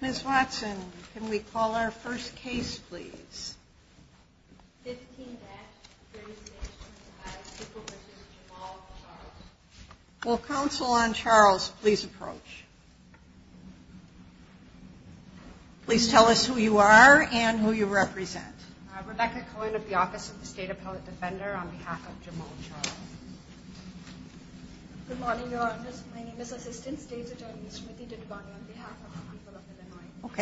Ms. Watson, can we call our first case please? 15-3625, April versus Jamal Charles. Will counsel on Charles please approach? Please tell us who you are and who you represent. Rebecca Cohen of the Office of the State Appellate Defender on behalf of Jamal Charles. Good morning, Your Honors. My name is Assistant State Attorney Smriti Didwani on behalf of the people of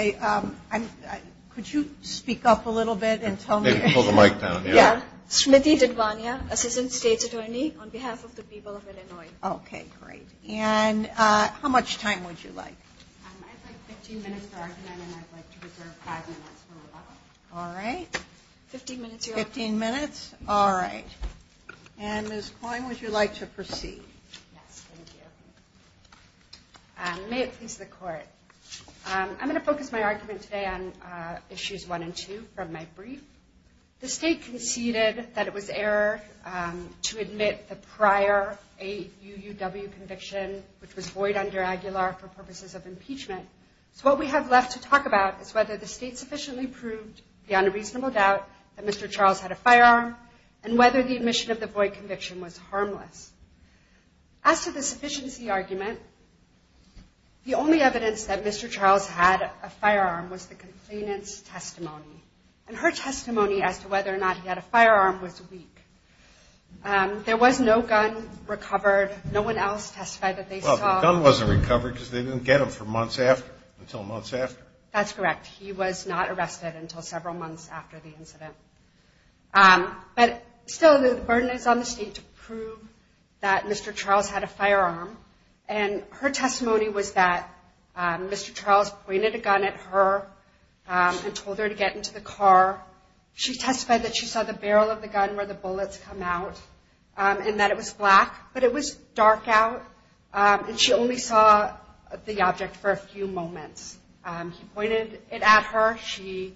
Illinois. Okay, could you speak up a little bit and tell me? Smriti Didwani, Assistant State Attorney on behalf of the people of Illinois. Okay, great. And how much time would you like? I'd like 15 minutes to argue and then I'd like to reserve five minutes for rebuttal. All right. 15 minutes? All right. And Ms. Cohen, would you like to proceed? May it please the Court. I'm going to focus my argument today on Issues 1 and 2 from my brief. The State conceded that it was error to admit the prior AUUW conviction, which was void under Aguilar for purposes of impeachment. So what we have left to talk about is whether the State sufficiently proved the unreasonable doubt that Mr. Charles had a firearm and whether the admission of the void conviction was harmless. As to the sufficiency argument, the only evidence that Mr. Charles had a firearm was the complainant's testimony. And her testimony as to whether or not he had a firearm was weak. There was no gun recovered. No one else testified that they saw... Well, the gun wasn't recovered because they didn't get him for months after, until months after. That's correct. He was not arrested until several months after the incident. But still, the burden is on the State to prove that Mr. Charles had a firearm. And her testimony was that Mr. Charles pointed a gun at her and told her to get into the car. She testified that she saw the barrel of the gun where the bullets come out, and that it was black, but it was dark out. And she only saw the object for a few moments. He pointed it at her.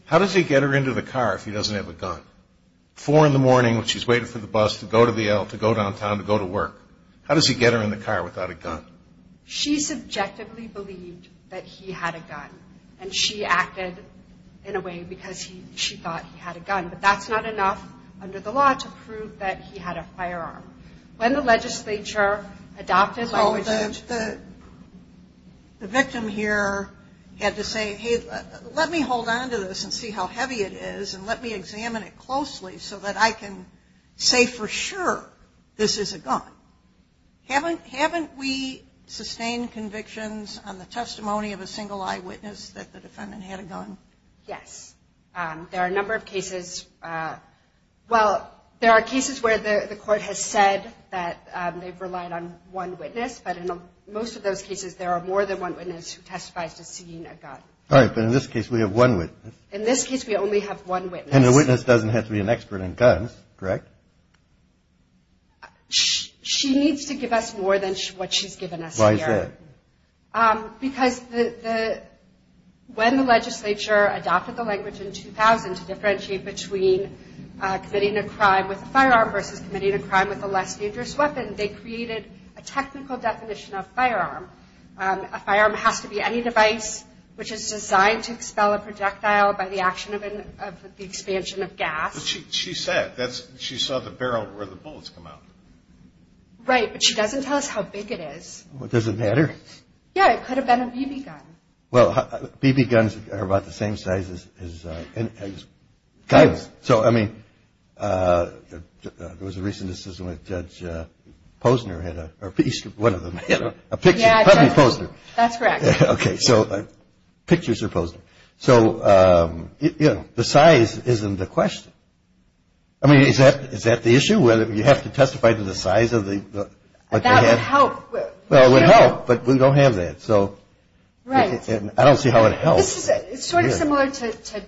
How does he get her into the car if he doesn't have a gun? Four in the morning when she's waiting for the bus to go to the L, to go downtown, to go to work. How does he get her in the car without a gun? She subjectively believed that he had a gun, and she acted in a way because she thought he had a gun. But that's not enough under the law to prove that he had a firearm. When the legislature adopted... The victim here had to say, hey, let me hold on to this and see how heavy it is, and let me examine it closely so that I can say for sure this is a gun. Haven't we sustained convictions on the testimony of a single eyewitness that the defendant had a gun? Yes. There are a number of cases. Well, there are cases where the court has said that they've relied on one witness, but in most of those cases there are more than one witness who testifies to seeing a gun. All right, but in this case we have one witness. And the witness doesn't have to be an expert in guns, correct? She needs to give us more than what she's given us here. Why is that? Because when the legislature adopted the language in 2000 to differentiate between committing a crime with a firearm versus committing a crime with a less dangerous weapon, they created a technical definition of firearm. A firearm has to be any device which is designed to expel a projectile by the action of the expansion of gas. She said. She saw the barrel where the bullets come out. Right, but she doesn't tell us how big it is. Does it matter? Yeah, it could have been a BB gun. Well, BB guns are about the same size as guns. So, I mean, there was a recent decision when Judge Posner had one of them, a picture. Yeah, that's correct. Okay, so pictures are Posner. So, you know, the size isn't the question. I mean, is that the issue, whether you have to testify to the size of what they have? That would help. Well, it would help, but we don't have that. So I don't see how it helps. This is sort of similar to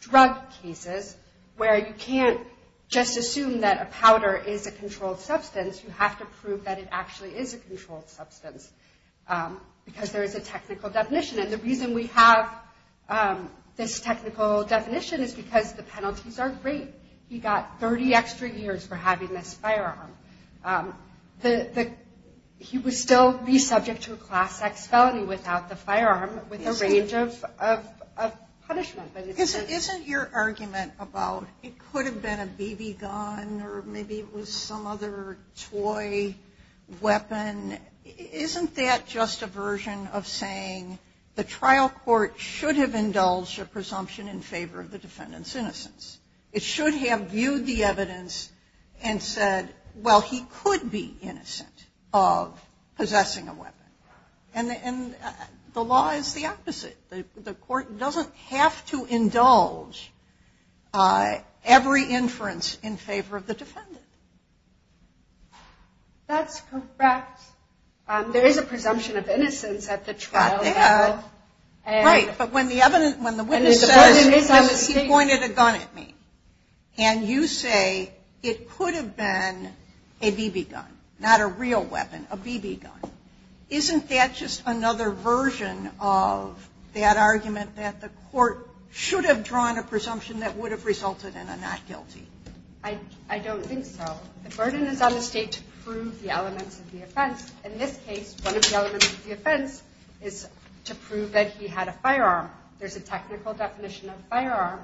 drug cases, where you can't just assume that a powder is a controlled substance. You have to prove that it actually is a controlled substance, because there is a technical definition. And the reason we have this technical definition is because the penalties are great. He got 30 extra years for having this firearm. He would still be subject to a Class X felony without the firearm, with a range of penalties. Isn't your argument about it could have been a BB gun, or maybe it was some other toy weapon, isn't that just a version of saying the trial court should have indulged a presumption in favor of the defendant's innocence? It should have viewed the evidence and said, well, he could be innocent of possessing a weapon. And the law is the opposite. The court doesn't have to indulge every inference in favor of the defendant. That's correct. There is a presumption of innocence at the trial level. And you say it could have been a BB gun, not a real weapon, a BB gun. Isn't that just another version of that argument that the court should have drawn a presumption that would have resulted in a not guilty? I don't think so. The burden is on the state to prove the elements of the offense. In this case, one of the elements of the offense is to prove that he had a firearm. There's a technical definition of firearm,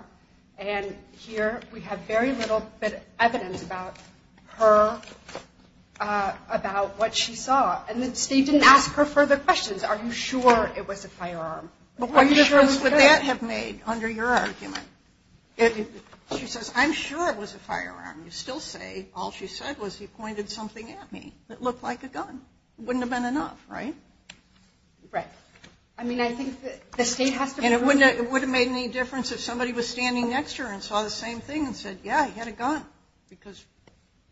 and here we have very little bit of evidence about her, about what she saw. And the state didn't ask her further questions, are you sure it was a firearm? What difference would that have made under your argument? She says, I'm sure it was a firearm. You still say, all she said was, he pointed something at me that looked like a gun. It wouldn't have been enough, right? It wouldn't have made any difference if somebody was standing next to her and saw the same thing and said, yeah, he had a gun. Because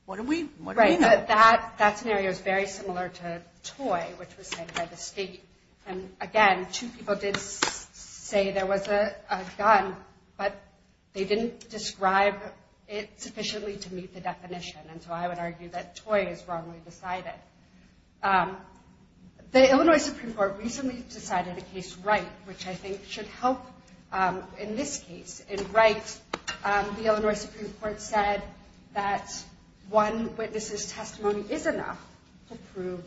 what do we know? That scenario is very similar to Toy, which was said by the state. And again, two people did say there was a gun, but they didn't describe it sufficiently to meet the definition. And so I would argue that Toy is wrongly decided. The Illinois Supreme Court recently decided a case right, which I think should help in this case. In Wright, the Illinois Supreme Court said that one witness's testimony is enough to prove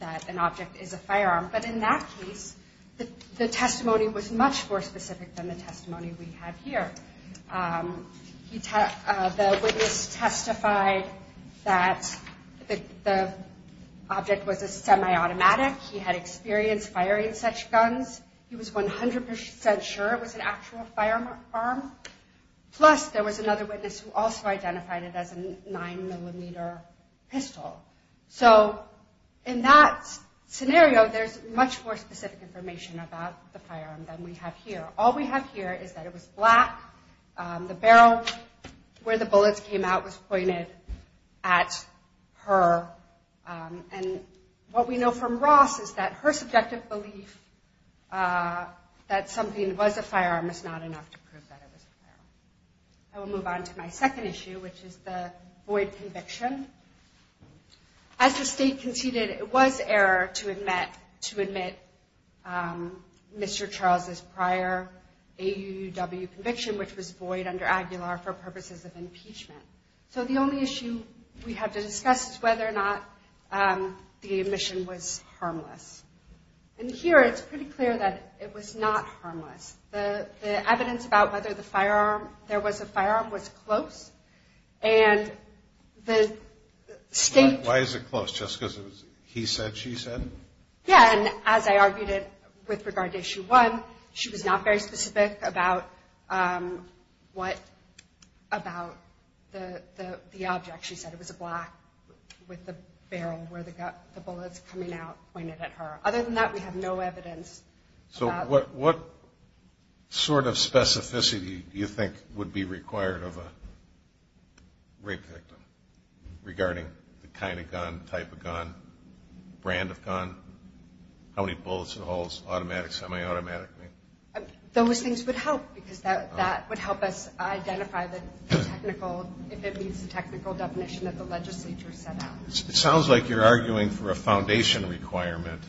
that an object is a firearm. But in that case, the testimony was much more specific than the testimony we have here. The witness testified that the object was a semi-automatic, he had experience firing such guns, he was 100% sure it was an actual firearm. Plus there was another witness who also identified it as a 9mm pistol. So in that scenario, there's much more specific information about the firearm than we have here. All we have here is that it was black, the barrel where the bullets came out was pointed at her. And what we know from Ross is that her subjective belief that something was a firearm is not enough to prove that it was a firearm. I will move on to my second issue, which is the Boyd conviction. As the state conceded, it was error to admit Mr. Charles' prior AUW conviction, which was Boyd under Aguilar for purposes of impeachment. So the only issue we have to discuss is whether or not the admission was harmless. And here it's pretty clear that it was not harmless. There was a firearm, it was close, and the state... Why is it close? Just because he said, she said? Yeah, and as I argued it with regard to issue one, she was not very specific about the object. She said it was a black with a barrel where the bullets coming out pointed at her. Other than that, we have no evidence. So what sort of specificity do you think would be required of a rape victim regarding the kind of gun, type of gun, brand of gun, how many bullets it holds, automatic, semi-automatic? Those things would help, because that would help us identify the technical, if it meets the technical definition that the legislature set out. It sounds like you're arguing for a foundation requirement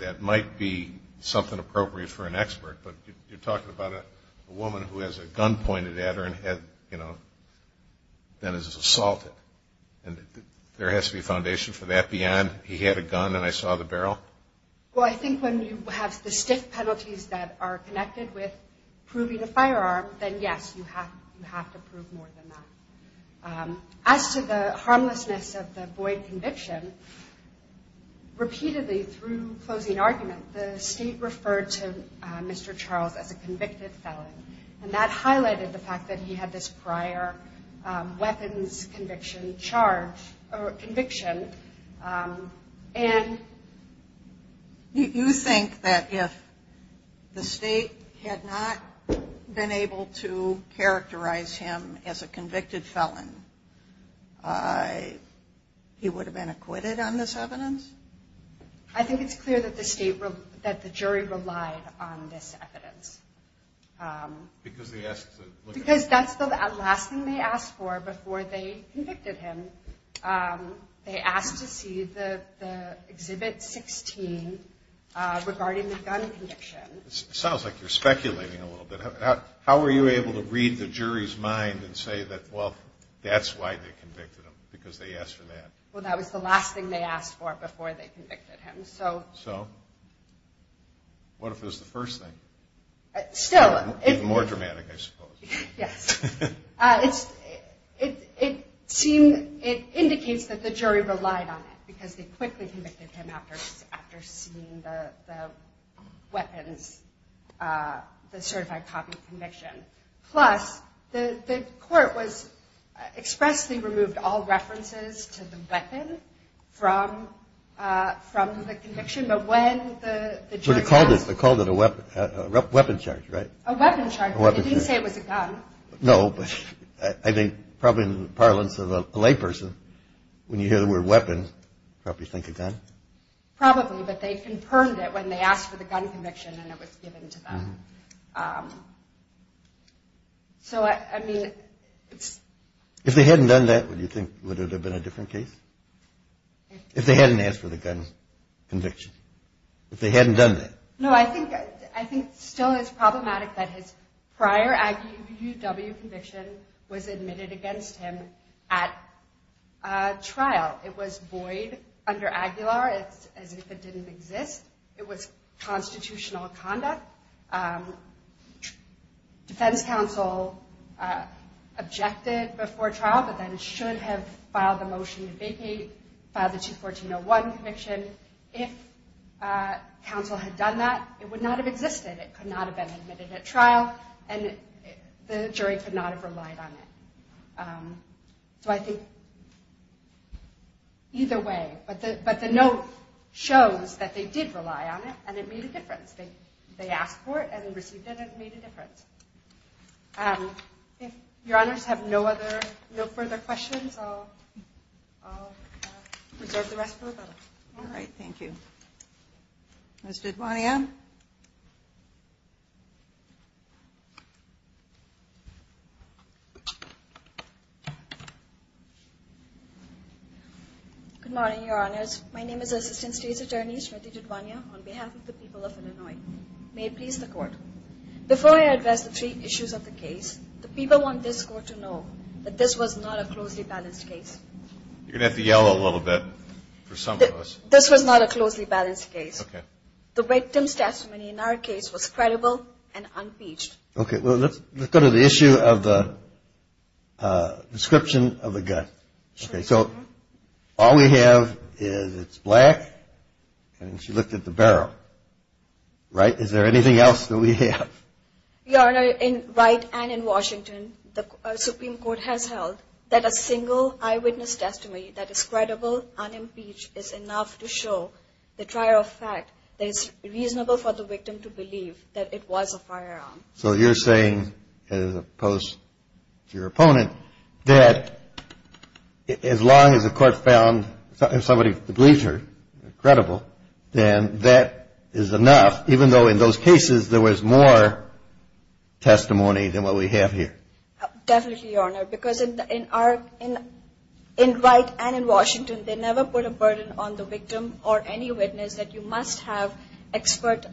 that might be something appropriate for an expert. But you're talking about a woman who has a gun pointed at her and has, you know, then is assaulted. And there has to be foundation for that beyond he had a gun and I saw the barrel? Well, I think when you have the stiff penalties that are connected with proving a firearm, then yes, you have to prove more than that. As to the harmlessness of the Boyd conviction, repeatedly through closing argument, the state referred to Mr. Charles as a convicted felon. And that highlighted the fact that he had this prior weapons conviction charge or conviction. And... You think that if the state had not been able to characterize him as a convicted felon, he would have been acquitted on this evidence? I think it's clear that the state, that the jury relied on this evidence. Because they asked to look at... Because that's the last thing they asked for before they convicted him. They asked to see the Exhibit 16 regarding the gun conviction. Sounds like you're speculating a little bit. How were you able to read the jury's mind and say that, well, that's why they convicted him, because they asked for that? Well, that was the last thing they asked for before they convicted him. So, what if it was the first thing? More dramatic, I suppose. Yes. It indicates that the jury relied on it, because they quickly convicted him after seeing the weapons, the certified copy conviction. Plus, the court expressly removed all references to the weapon from the conviction. But when the jury... Yes, they called it a weapon charge, right? A weapon charge, but they didn't say it was a gun. No, but I think probably in the parlance of a layperson, when you hear the word weapon, you probably think a gun. Probably, but they confirmed it when they asked for the gun conviction and it was given to them. If they hadn't done that, would you think it would have been a different case? If they hadn't asked for the gun conviction. If they hadn't done that. No, I think it still is problematic that his prior AGUW conviction was admitted against him at trial. It was void under Aguilar, as if it didn't exist. It was constitutional conduct. Defense counsel objected before trial, but then should have filed the motion to vacate, filed the 214-01 conviction. If counsel had done that, it would not have existed. It could not have been admitted at trial, and the jury could not have relied on it. So I think either way, but the note shows that they did rely on it, and it made a difference. They asked for it, and received it, and it made a difference. If your honors have no further questions, I'll reserve the rest for the panel. All right, thank you. Ms. Dudwania? Good morning, your honors. My name is Assistant State's Attorney, Smriti Dudwania, on behalf of the people of Illinois. May it please the Court. Before I address the three issues of the case, the people want this Court to know that this was not a closely balanced case. You're going to have to yell a little bit for some of us. This was not a closely balanced case. The victim's testimony in our case was credible and unpaged. Okay, well, let's go to the issue of the description of the gun. Okay, so all we have is it's black, and she looked at the barrel, right? Is there anything else that we have? Your Honor, in Wright and in Washington, the Supreme Court has held that a single eyewitness testimony that is credible, unimpeached, is enough to show the trial of fact that it's reasonable for the victim to believe that it was a firearm. So you're saying, as opposed to your opponent, that as long as the Court found somebody who believes her credible, then that is enough, even though in those cases there was more testimony than what we have here? Definitely, Your Honor, because in Wright and in Washington, they never put a burden on the victim or any witness that you must have expert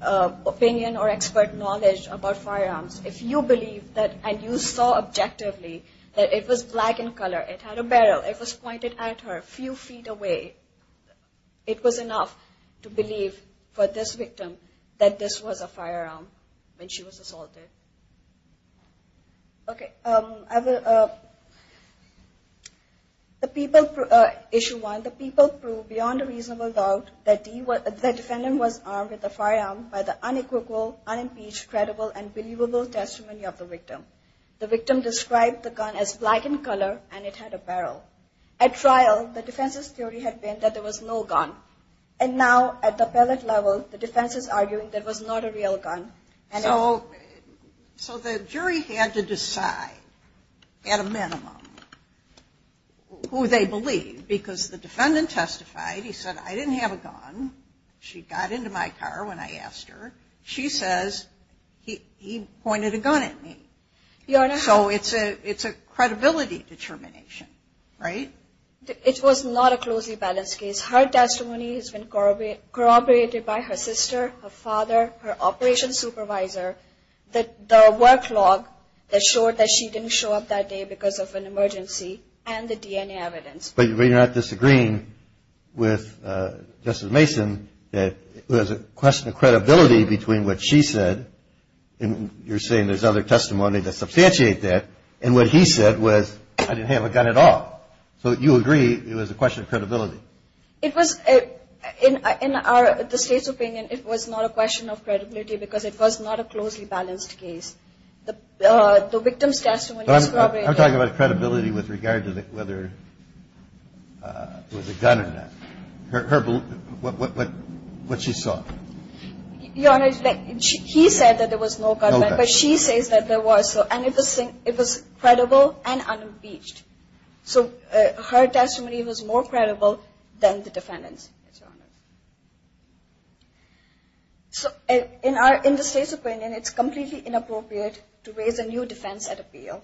opinion or expert knowledge about firearms. If you believe that, and you saw objectively, that it was black in color, it had a barrel, it was pointed at her a few feet away, it was enough to believe for this victim that this was a firearm when she was assaulted. Issue 1, the people prove beyond a reasonable doubt that the defendant was armed with a firearm by the unequivocal, unimpeached, credible, and believable testimony of the victim. The victim described the gun as black in color, and it had a barrel. At trial, the defense's theory had been that there was no gun. And now, at the appellate level, the defense is arguing that it was not a real gun. So the jury had to decide, at a minimum, who they believed, because the defendant testified. He said, I didn't have a gun. She got into my car when I asked her. She says, he pointed a gun at me. So it's a credibility determination. Right? It was not a closely balanced case. Her testimony has been corroborated by her sister, her father, her operations supervisor, the work log that showed that she didn't show up that day because of an emergency, and the DNA evidence. But you're not disagreeing with Justice Mason that it was a question of credibility between what she said, and you're saying there's other testimony to substantiate that, and what he said was, I didn't have a gun at all. So you agree it was a question of credibility? In the state's opinion, it was not a question of credibility because it was not a closely balanced case. The victim's testimony was corroborated. I'm talking about credibility with regard to whether there was a gun in that. What she saw. Your Honor, he said that there was no gun, but she says that there was. And it was credible and unimpeached. So her testimony was more credible than the defendant's. So in the state's opinion, it's completely inappropriate to raise a new defense at appeal.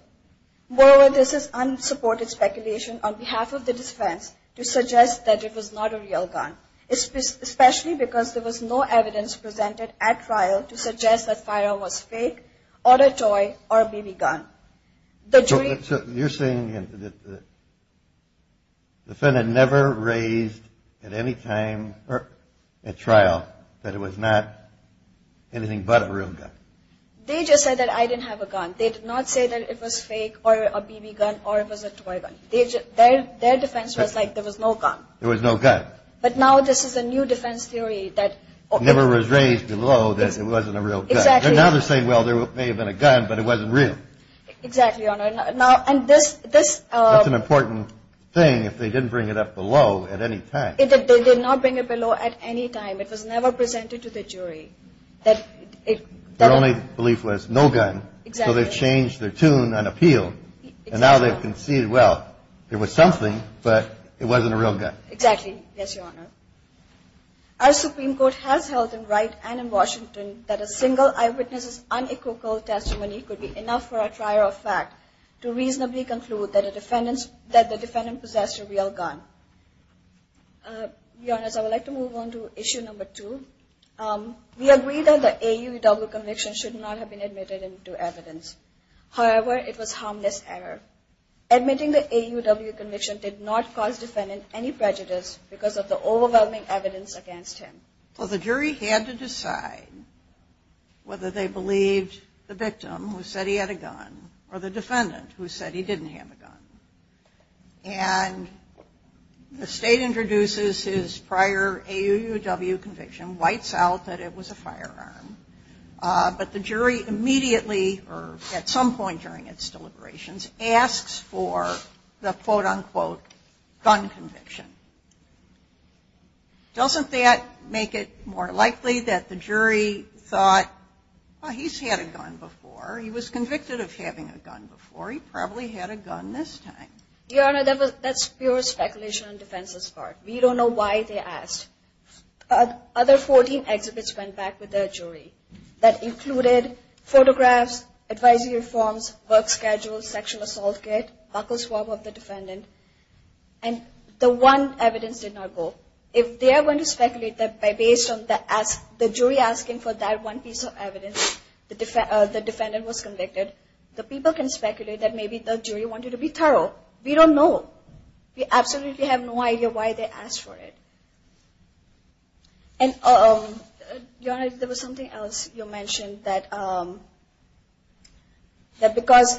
Moreover, this is unsupported speculation on behalf of the defense to suggest that it was not a real gun. Especially because there was no evidence presented at trial to suggest that the firearm was fake, or a toy, or a BB gun. So you're saying that the defendant never raised at any time at trial that it was not anything but a real gun. They just said that I didn't have a gun. They did not say that it was fake, or a BB gun, or it was a toy gun. Their defense was like there was no gun. There was no gun. But now this is a new defense theory. Never was raised below that it wasn't a real gun. Now they're saying, well, there may have been a gun, but it wasn't real. That's an important thing if they didn't bring it up below at any time. They did not bring it below at any time. It was never presented to the jury. Their only belief was no gun. So they've changed their tune on appeal. And now they've conceded, well, there was something, but it wasn't a real gun. Exactly. Yes, Your Honor. Our Supreme Court has held in Wright and in Washington that a single eyewitness's unequivocal testimony could be enough for a trial of fact to reasonably conclude that the defendant possessed a real gun. Your Honor, I would like to move on to issue number two. We agree that the AUW conviction should not have been admitted into evidence. However, it was rejected because of the overwhelming evidence against him. Well, the jury had to decide whether they believed the victim who said he had a gun or the defendant who said he didn't have a gun. And the state introduces his prior AUW conviction, writes out that it was a firearm. But the jury immediately, or at some point during its deliberations, asks for the quote-unquote gun conviction. Doesn't that make it more likely that the jury thought, well, he's had a gun before. He was convicted of having a gun before. He probably had a gun this time. Your Honor, that's pure speculation on defense's part. We don't know why they asked. Other 14 exhibits went back with the jury that included photographs, advisory forms, work schedules, sexual assault kit, buckle swab of the defendant. And the one evidence did not go. If they are going to speculate that based on the jury asking for that one piece of evidence the defendant was convicted, the people can speculate that maybe the jury wanted to be thorough. We don't know. We absolutely have no idea why they asked for it. And, Your Honor, there was something else you mentioned that because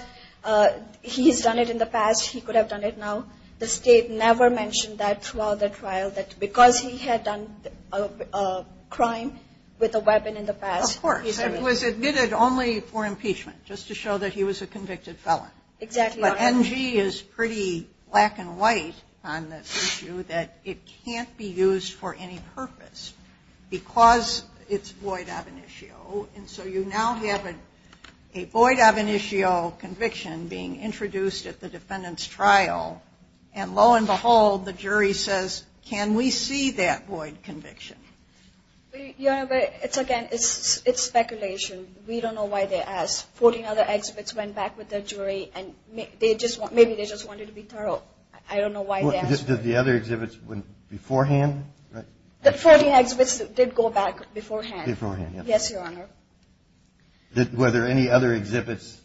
he's done it in the past, he could have done it now. The state never mentioned that throughout the trial, that because he had done a crime with a weapon in the past. Of course. It was admitted only for impeachment, just to show that he was a convicted felon. Exactly. But NG is pretty black and white on this issue, that it can't be used for any purpose because it's void ab initio. And so you now have a void ab initio conviction being introduced at the defendant's trial. And lo and behold, the jury says, can we see that void conviction? Your Honor, it's again, it's speculation. We don't know why they asked. 14 other exhibits went back with the jury and maybe they just wanted to be thorough. I don't know why they asked. Did the other exhibits beforehand? The 14 exhibits did go back beforehand. Beforehand, yes. Yes, Your Honor. Were there any other exhibits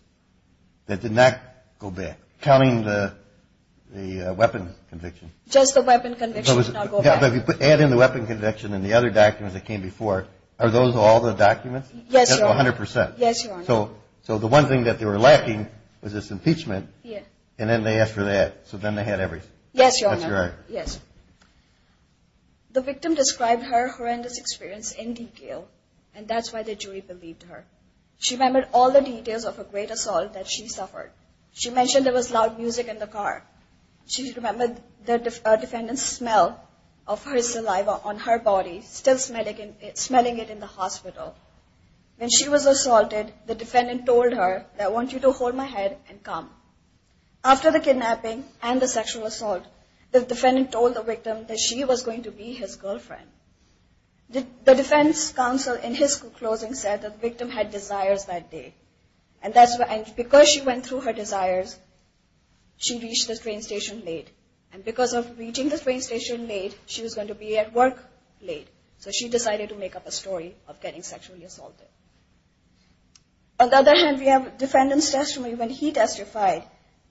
that did not go back, counting the weapon conviction? Just the weapon conviction did not go back. But if you add in the weapon conviction and the other documents that came before, are those all the documents? Yes, Your Honor. So the one thing that they were lacking was this impeachment. And then they asked for that. So then they had everything. Yes, Your Honor. The victim described her horrendous experience in detail, and that's why the jury believed her. She remembered all the details of a great assault that she suffered. She mentioned there was loud music in the car. She remembered the defendant's smell of her saliva on her body, still smelling it in the hospital. When she was assaulted, the defendant told her, I want you to hold my head and come. After the kidnapping and the sexual assault, the defendant told the victim that she was going to be his girlfriend. The defense counsel in his closing said that the victim had desires that day. And because she went through her desires, she reached the train station late. And because of reaching the train station late, she was going to be at work late. So she decided to make up a story of getting sexually assaulted. On the other hand, we have the defendant's testimony when he testified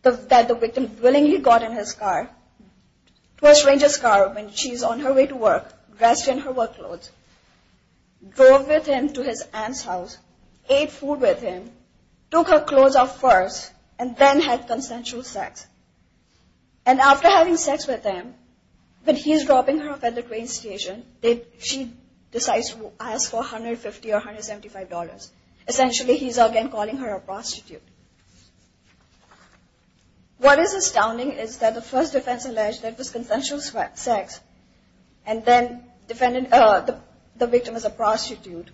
that the victim willingly got in his car, Twelfth Ranger's car, when she's on her way to work, dressed in her work clothes, drove with him to his aunt's house, ate food with him, took her clothes off first, and then had consensual sex. And after having sex with him, when he's dropping her off at the train station, she decides to ask for $150 or $175. Essentially, he's again calling her a prostitute. What is astounding is that the first defense alleged that it was consensual sex and then the victim is a prostitute.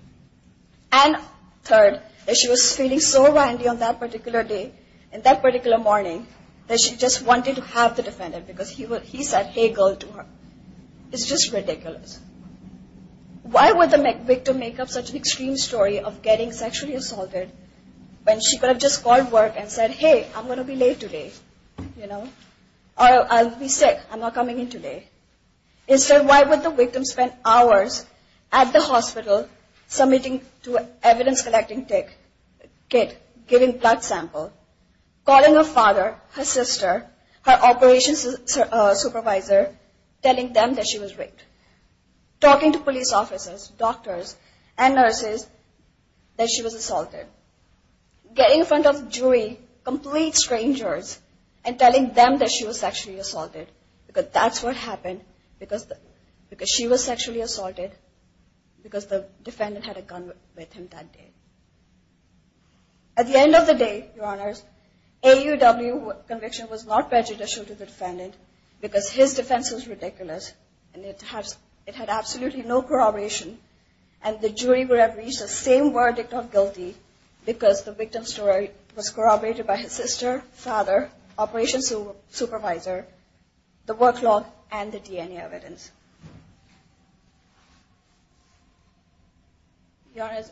And third, that she was feeling so windy on that particular day, in that particular morning, that she just wanted to have the defendant because he said, hey girl, to her. It's just ridiculous. Why would the victim make up such an extreme story of getting sexually assaulted when she could have just called work and said, hey, I'm going to be late today. I'll be sick. I'm not coming in today. Instead, why would the victim spend hours at the hospital submitting to an evidence-collecting kit, giving blood samples, calling her father, her sister, her operations supervisor, telling them that she was raped, talking to police officers, doctors, and nurses that she was assaulted. Getting in front of a jury, complete strangers, and telling them that she was sexually assaulted because that's what happened, because she was sexually assaulted, because the defendant had a gun with him that day. At the end of the day, your honors, AUW conviction was not prejudicial to the defendant because his defense was ridiculous, and it had absolutely no corroboration, and the jury would have reached the same verdict on guilty because the victim's story was corroborated by his sister, father, operations supervisor, the work log, and the DNA evidence. Your honors,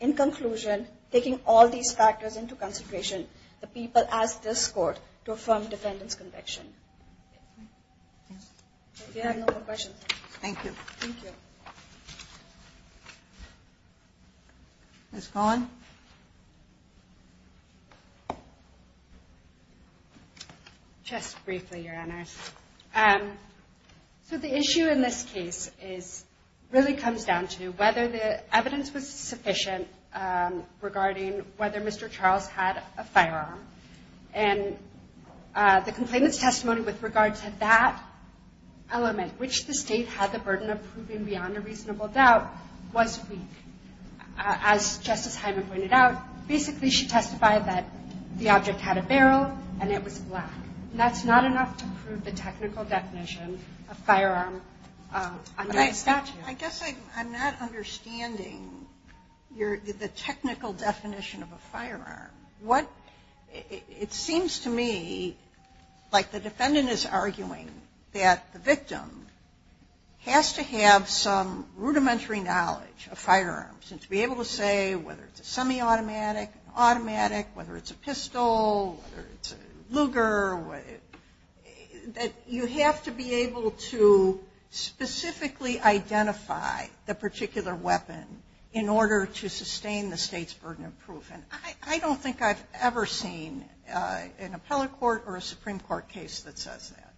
in conclusion, taking all these factors into consideration, the people ask this court to affirm defendant's conviction. If you have no more questions. Ms. Cohen. Ms. Cohen. Just briefly, your honors. So the issue in this case really comes down to whether the evidence was sufficient regarding whether Mr. Charles had a firearm, and the complainant's testimony with regard to that element, which the state had the burden of proving beyond a reasonable doubt, was weak. As Justice Hyman pointed out, basically she testified that the object had a barrel, and it was black, and that's not enough to prove the technical definition of firearm under the statute. I guess I'm not understanding the technical definition of a firearm. It seems to me like the defendant is arguing that the victim has to have some rudimentary knowledge of firearms, and to be able to say whether it's a semi-automatic, automatic, whether it's a pistol, whether it's a Luger, that you have to be able to specifically identify the particular weapon in order to sustain the state's burden of proof. And I don't think I've ever seen an appellate court or a Supreme Court case that says that.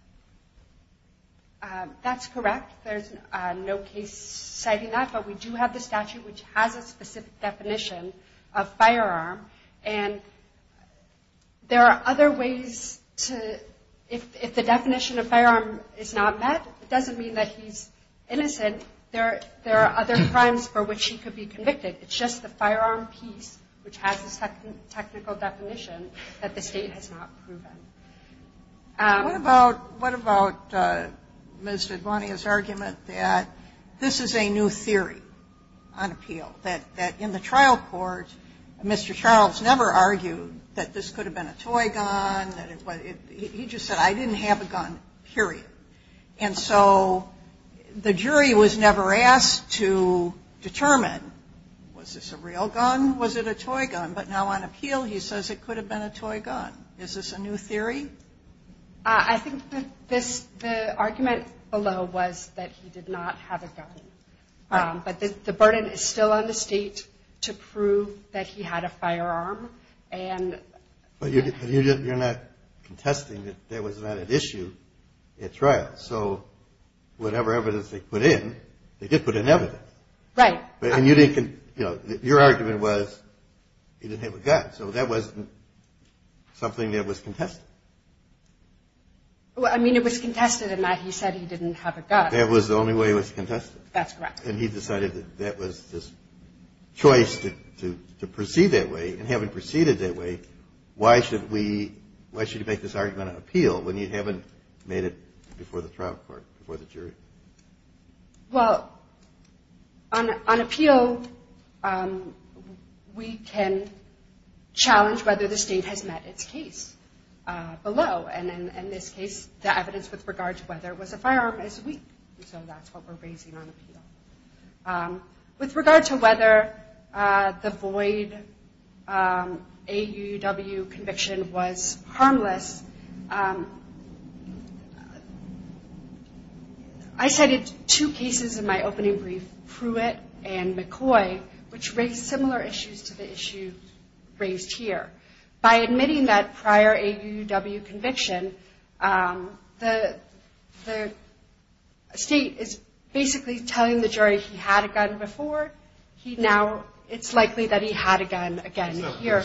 That's correct. There's no case citing that, but we do have the statute which has a specific definition of firearm, and there are other ways to, if the definition of firearm is not met, it doesn't mean that he's innocent, there are other crimes for which he could be convicted. It's just the firearm piece, which has a technical definition, that the State has not proven. What about Ms. Dedwania's argument that this is a new theory on appeal, that in the trial court, Mr. Charles never argued that this could have been a toy gun, he just said, I didn't have a gun, period. And so the jury was never asked to determine, was this a real gun, was it a toy gun? But now on appeal he says it could have been a toy gun. Is this a new theory? I think the argument below was that he did not have a gun. But the burden is still on the State to prove that he had a firearm. But you're not contesting that there was not an issue at trial. So whatever evidence they put in, they did put in evidence. Your argument was he didn't have a gun, so that wasn't something that was contested. Well, I mean, it was contested in that he said he didn't have a gun. That was the only way it was contested. That's correct. And he decided that that was his choice to proceed that way, and having proceeded that way, why should we make this argument on appeal when you haven't made it before the trial court, before the jury? Well, on appeal, we can challenge whether the State has met its case below. And in this case, the evidence with regard to whether it was a firearm is weak. So that's what we're raising on appeal. With regard to whether the void AUW conviction was harmless, I cited two cases in my opening brief, Pruitt and McCoy, which raised similar issues to the issue raised here. By admitting that prior AUW conviction, the State is basically telling the jury he had a gun before. It's likely that he had a gun again here.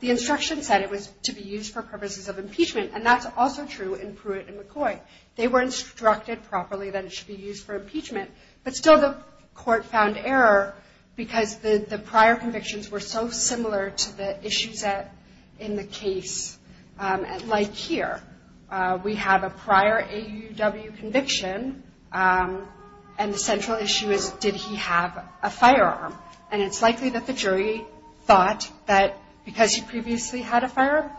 The instruction said it was to be used for purposes of impeachment, and that's also true in Pruitt and McCoy. They were instructed properly that it should be used for impeachment, but still the court found error because the prior convictions were so similar to the issues in the case. Like here, we have a prior AUW conviction, and the central issue is, did he have a firearm? And it's likely that the jury thought that because he previously had a firearm,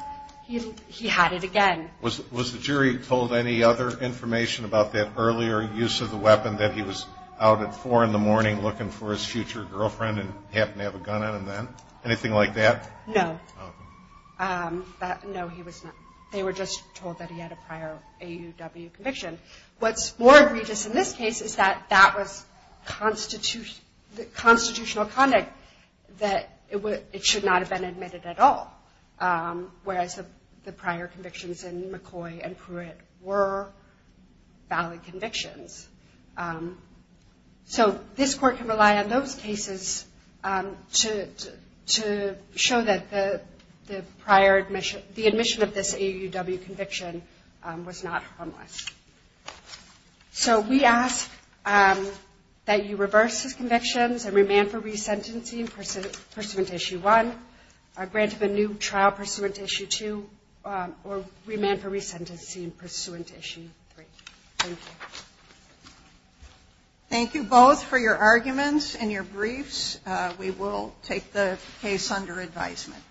he had it again. Was the jury told any other information about that earlier use of the weapon that he was out at 4 in the morning looking for his future girlfriend and happened to have a gun on him then? Anything like that? No. They were just told that he had a prior AUW conviction. What's more egregious in this case is that that was constitutional conduct that it should not have been admitted at all, whereas the prior convictions in McCoy and Pruitt were valid convictions. So this court can rely on those cases to show that the prior admission, the admission of this AUW conviction was not harmless. So we ask that you reverse these convictions and remand for resentencing pursuant to Issue 1, grant of a new trial pursuant to Issue 2, or remand for resentencing pursuant to Issue 3. Thank you. Thank you both for your arguments and your briefs. We will take the case under advisement.